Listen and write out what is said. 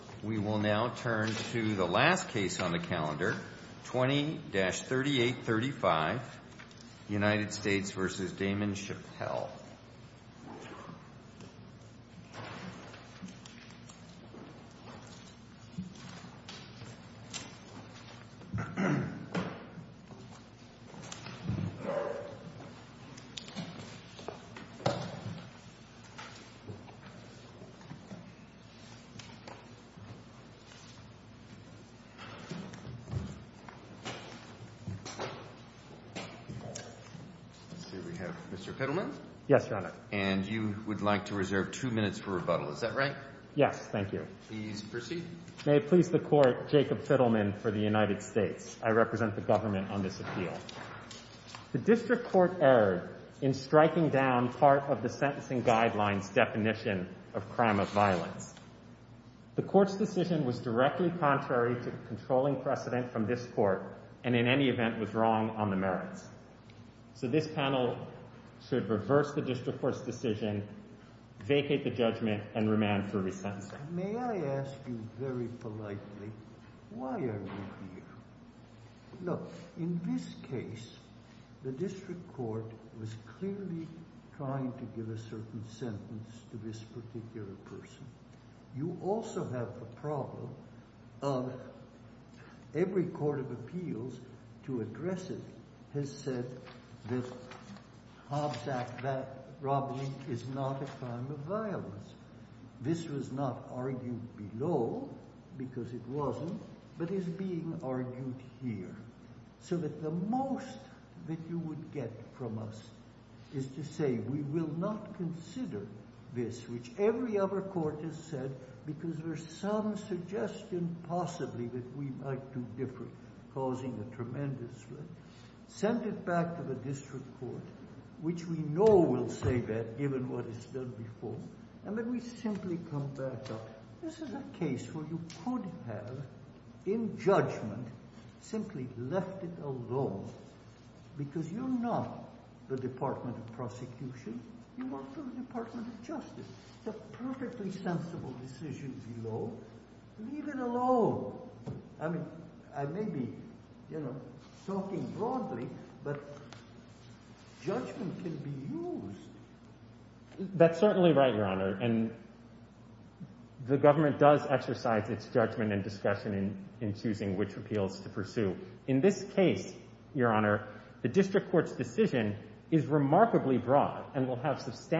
We will now turn to the last case on the calendar, 20-3835, United States v. Damon Chappelle. Let's see, we have Mr. Fiddleman. Yes, Your Honor. And you would like to reserve two minutes for rebuttal, is that right? Yes, thank you. Please proceed. May it please the Court, Jacob Fiddleman for the United States. I represent the government on this appeal. The district court erred in striking down part of the sentencing guidelines definition of crime of violence. The court's decision was directly contrary to the controlling precedent from this court, and in any event was wrong on the merits. So this panel should reverse the district court's decision, vacate the judgment, and remand for resentencing. May I ask you very politely, why are you here? Look, in this case, the district court was clearly trying to give a certain sentence to this particular person. You also have the problem of every court of appeals to address it has said that Hobbs Act robbery is not a crime of violence. This was not argued below, because it wasn't, but is being argued here. So that the most that you would get from us is to say we will not consider this, which every other court has said, because there's some suggestion possibly that we might do different, causing a tremendous risk. Send it back to the district court, which we know will say that, given what is said before, and then we simply come back up. This is a case where you could have, in judgment, simply left it alone, because you're not the Department of Prosecution. You work for the Department of Justice. It's a perfectly sensible decision below. Leave it alone. I mean, I may be, you know, talking broadly, but judgment can be used. That's certainly right, Your Honor, and the government does exercise its judgment and discussion in choosing which appeals to pursue. In this case, Your Honor, the district court's decision is remarkably broad and will have substantial impact.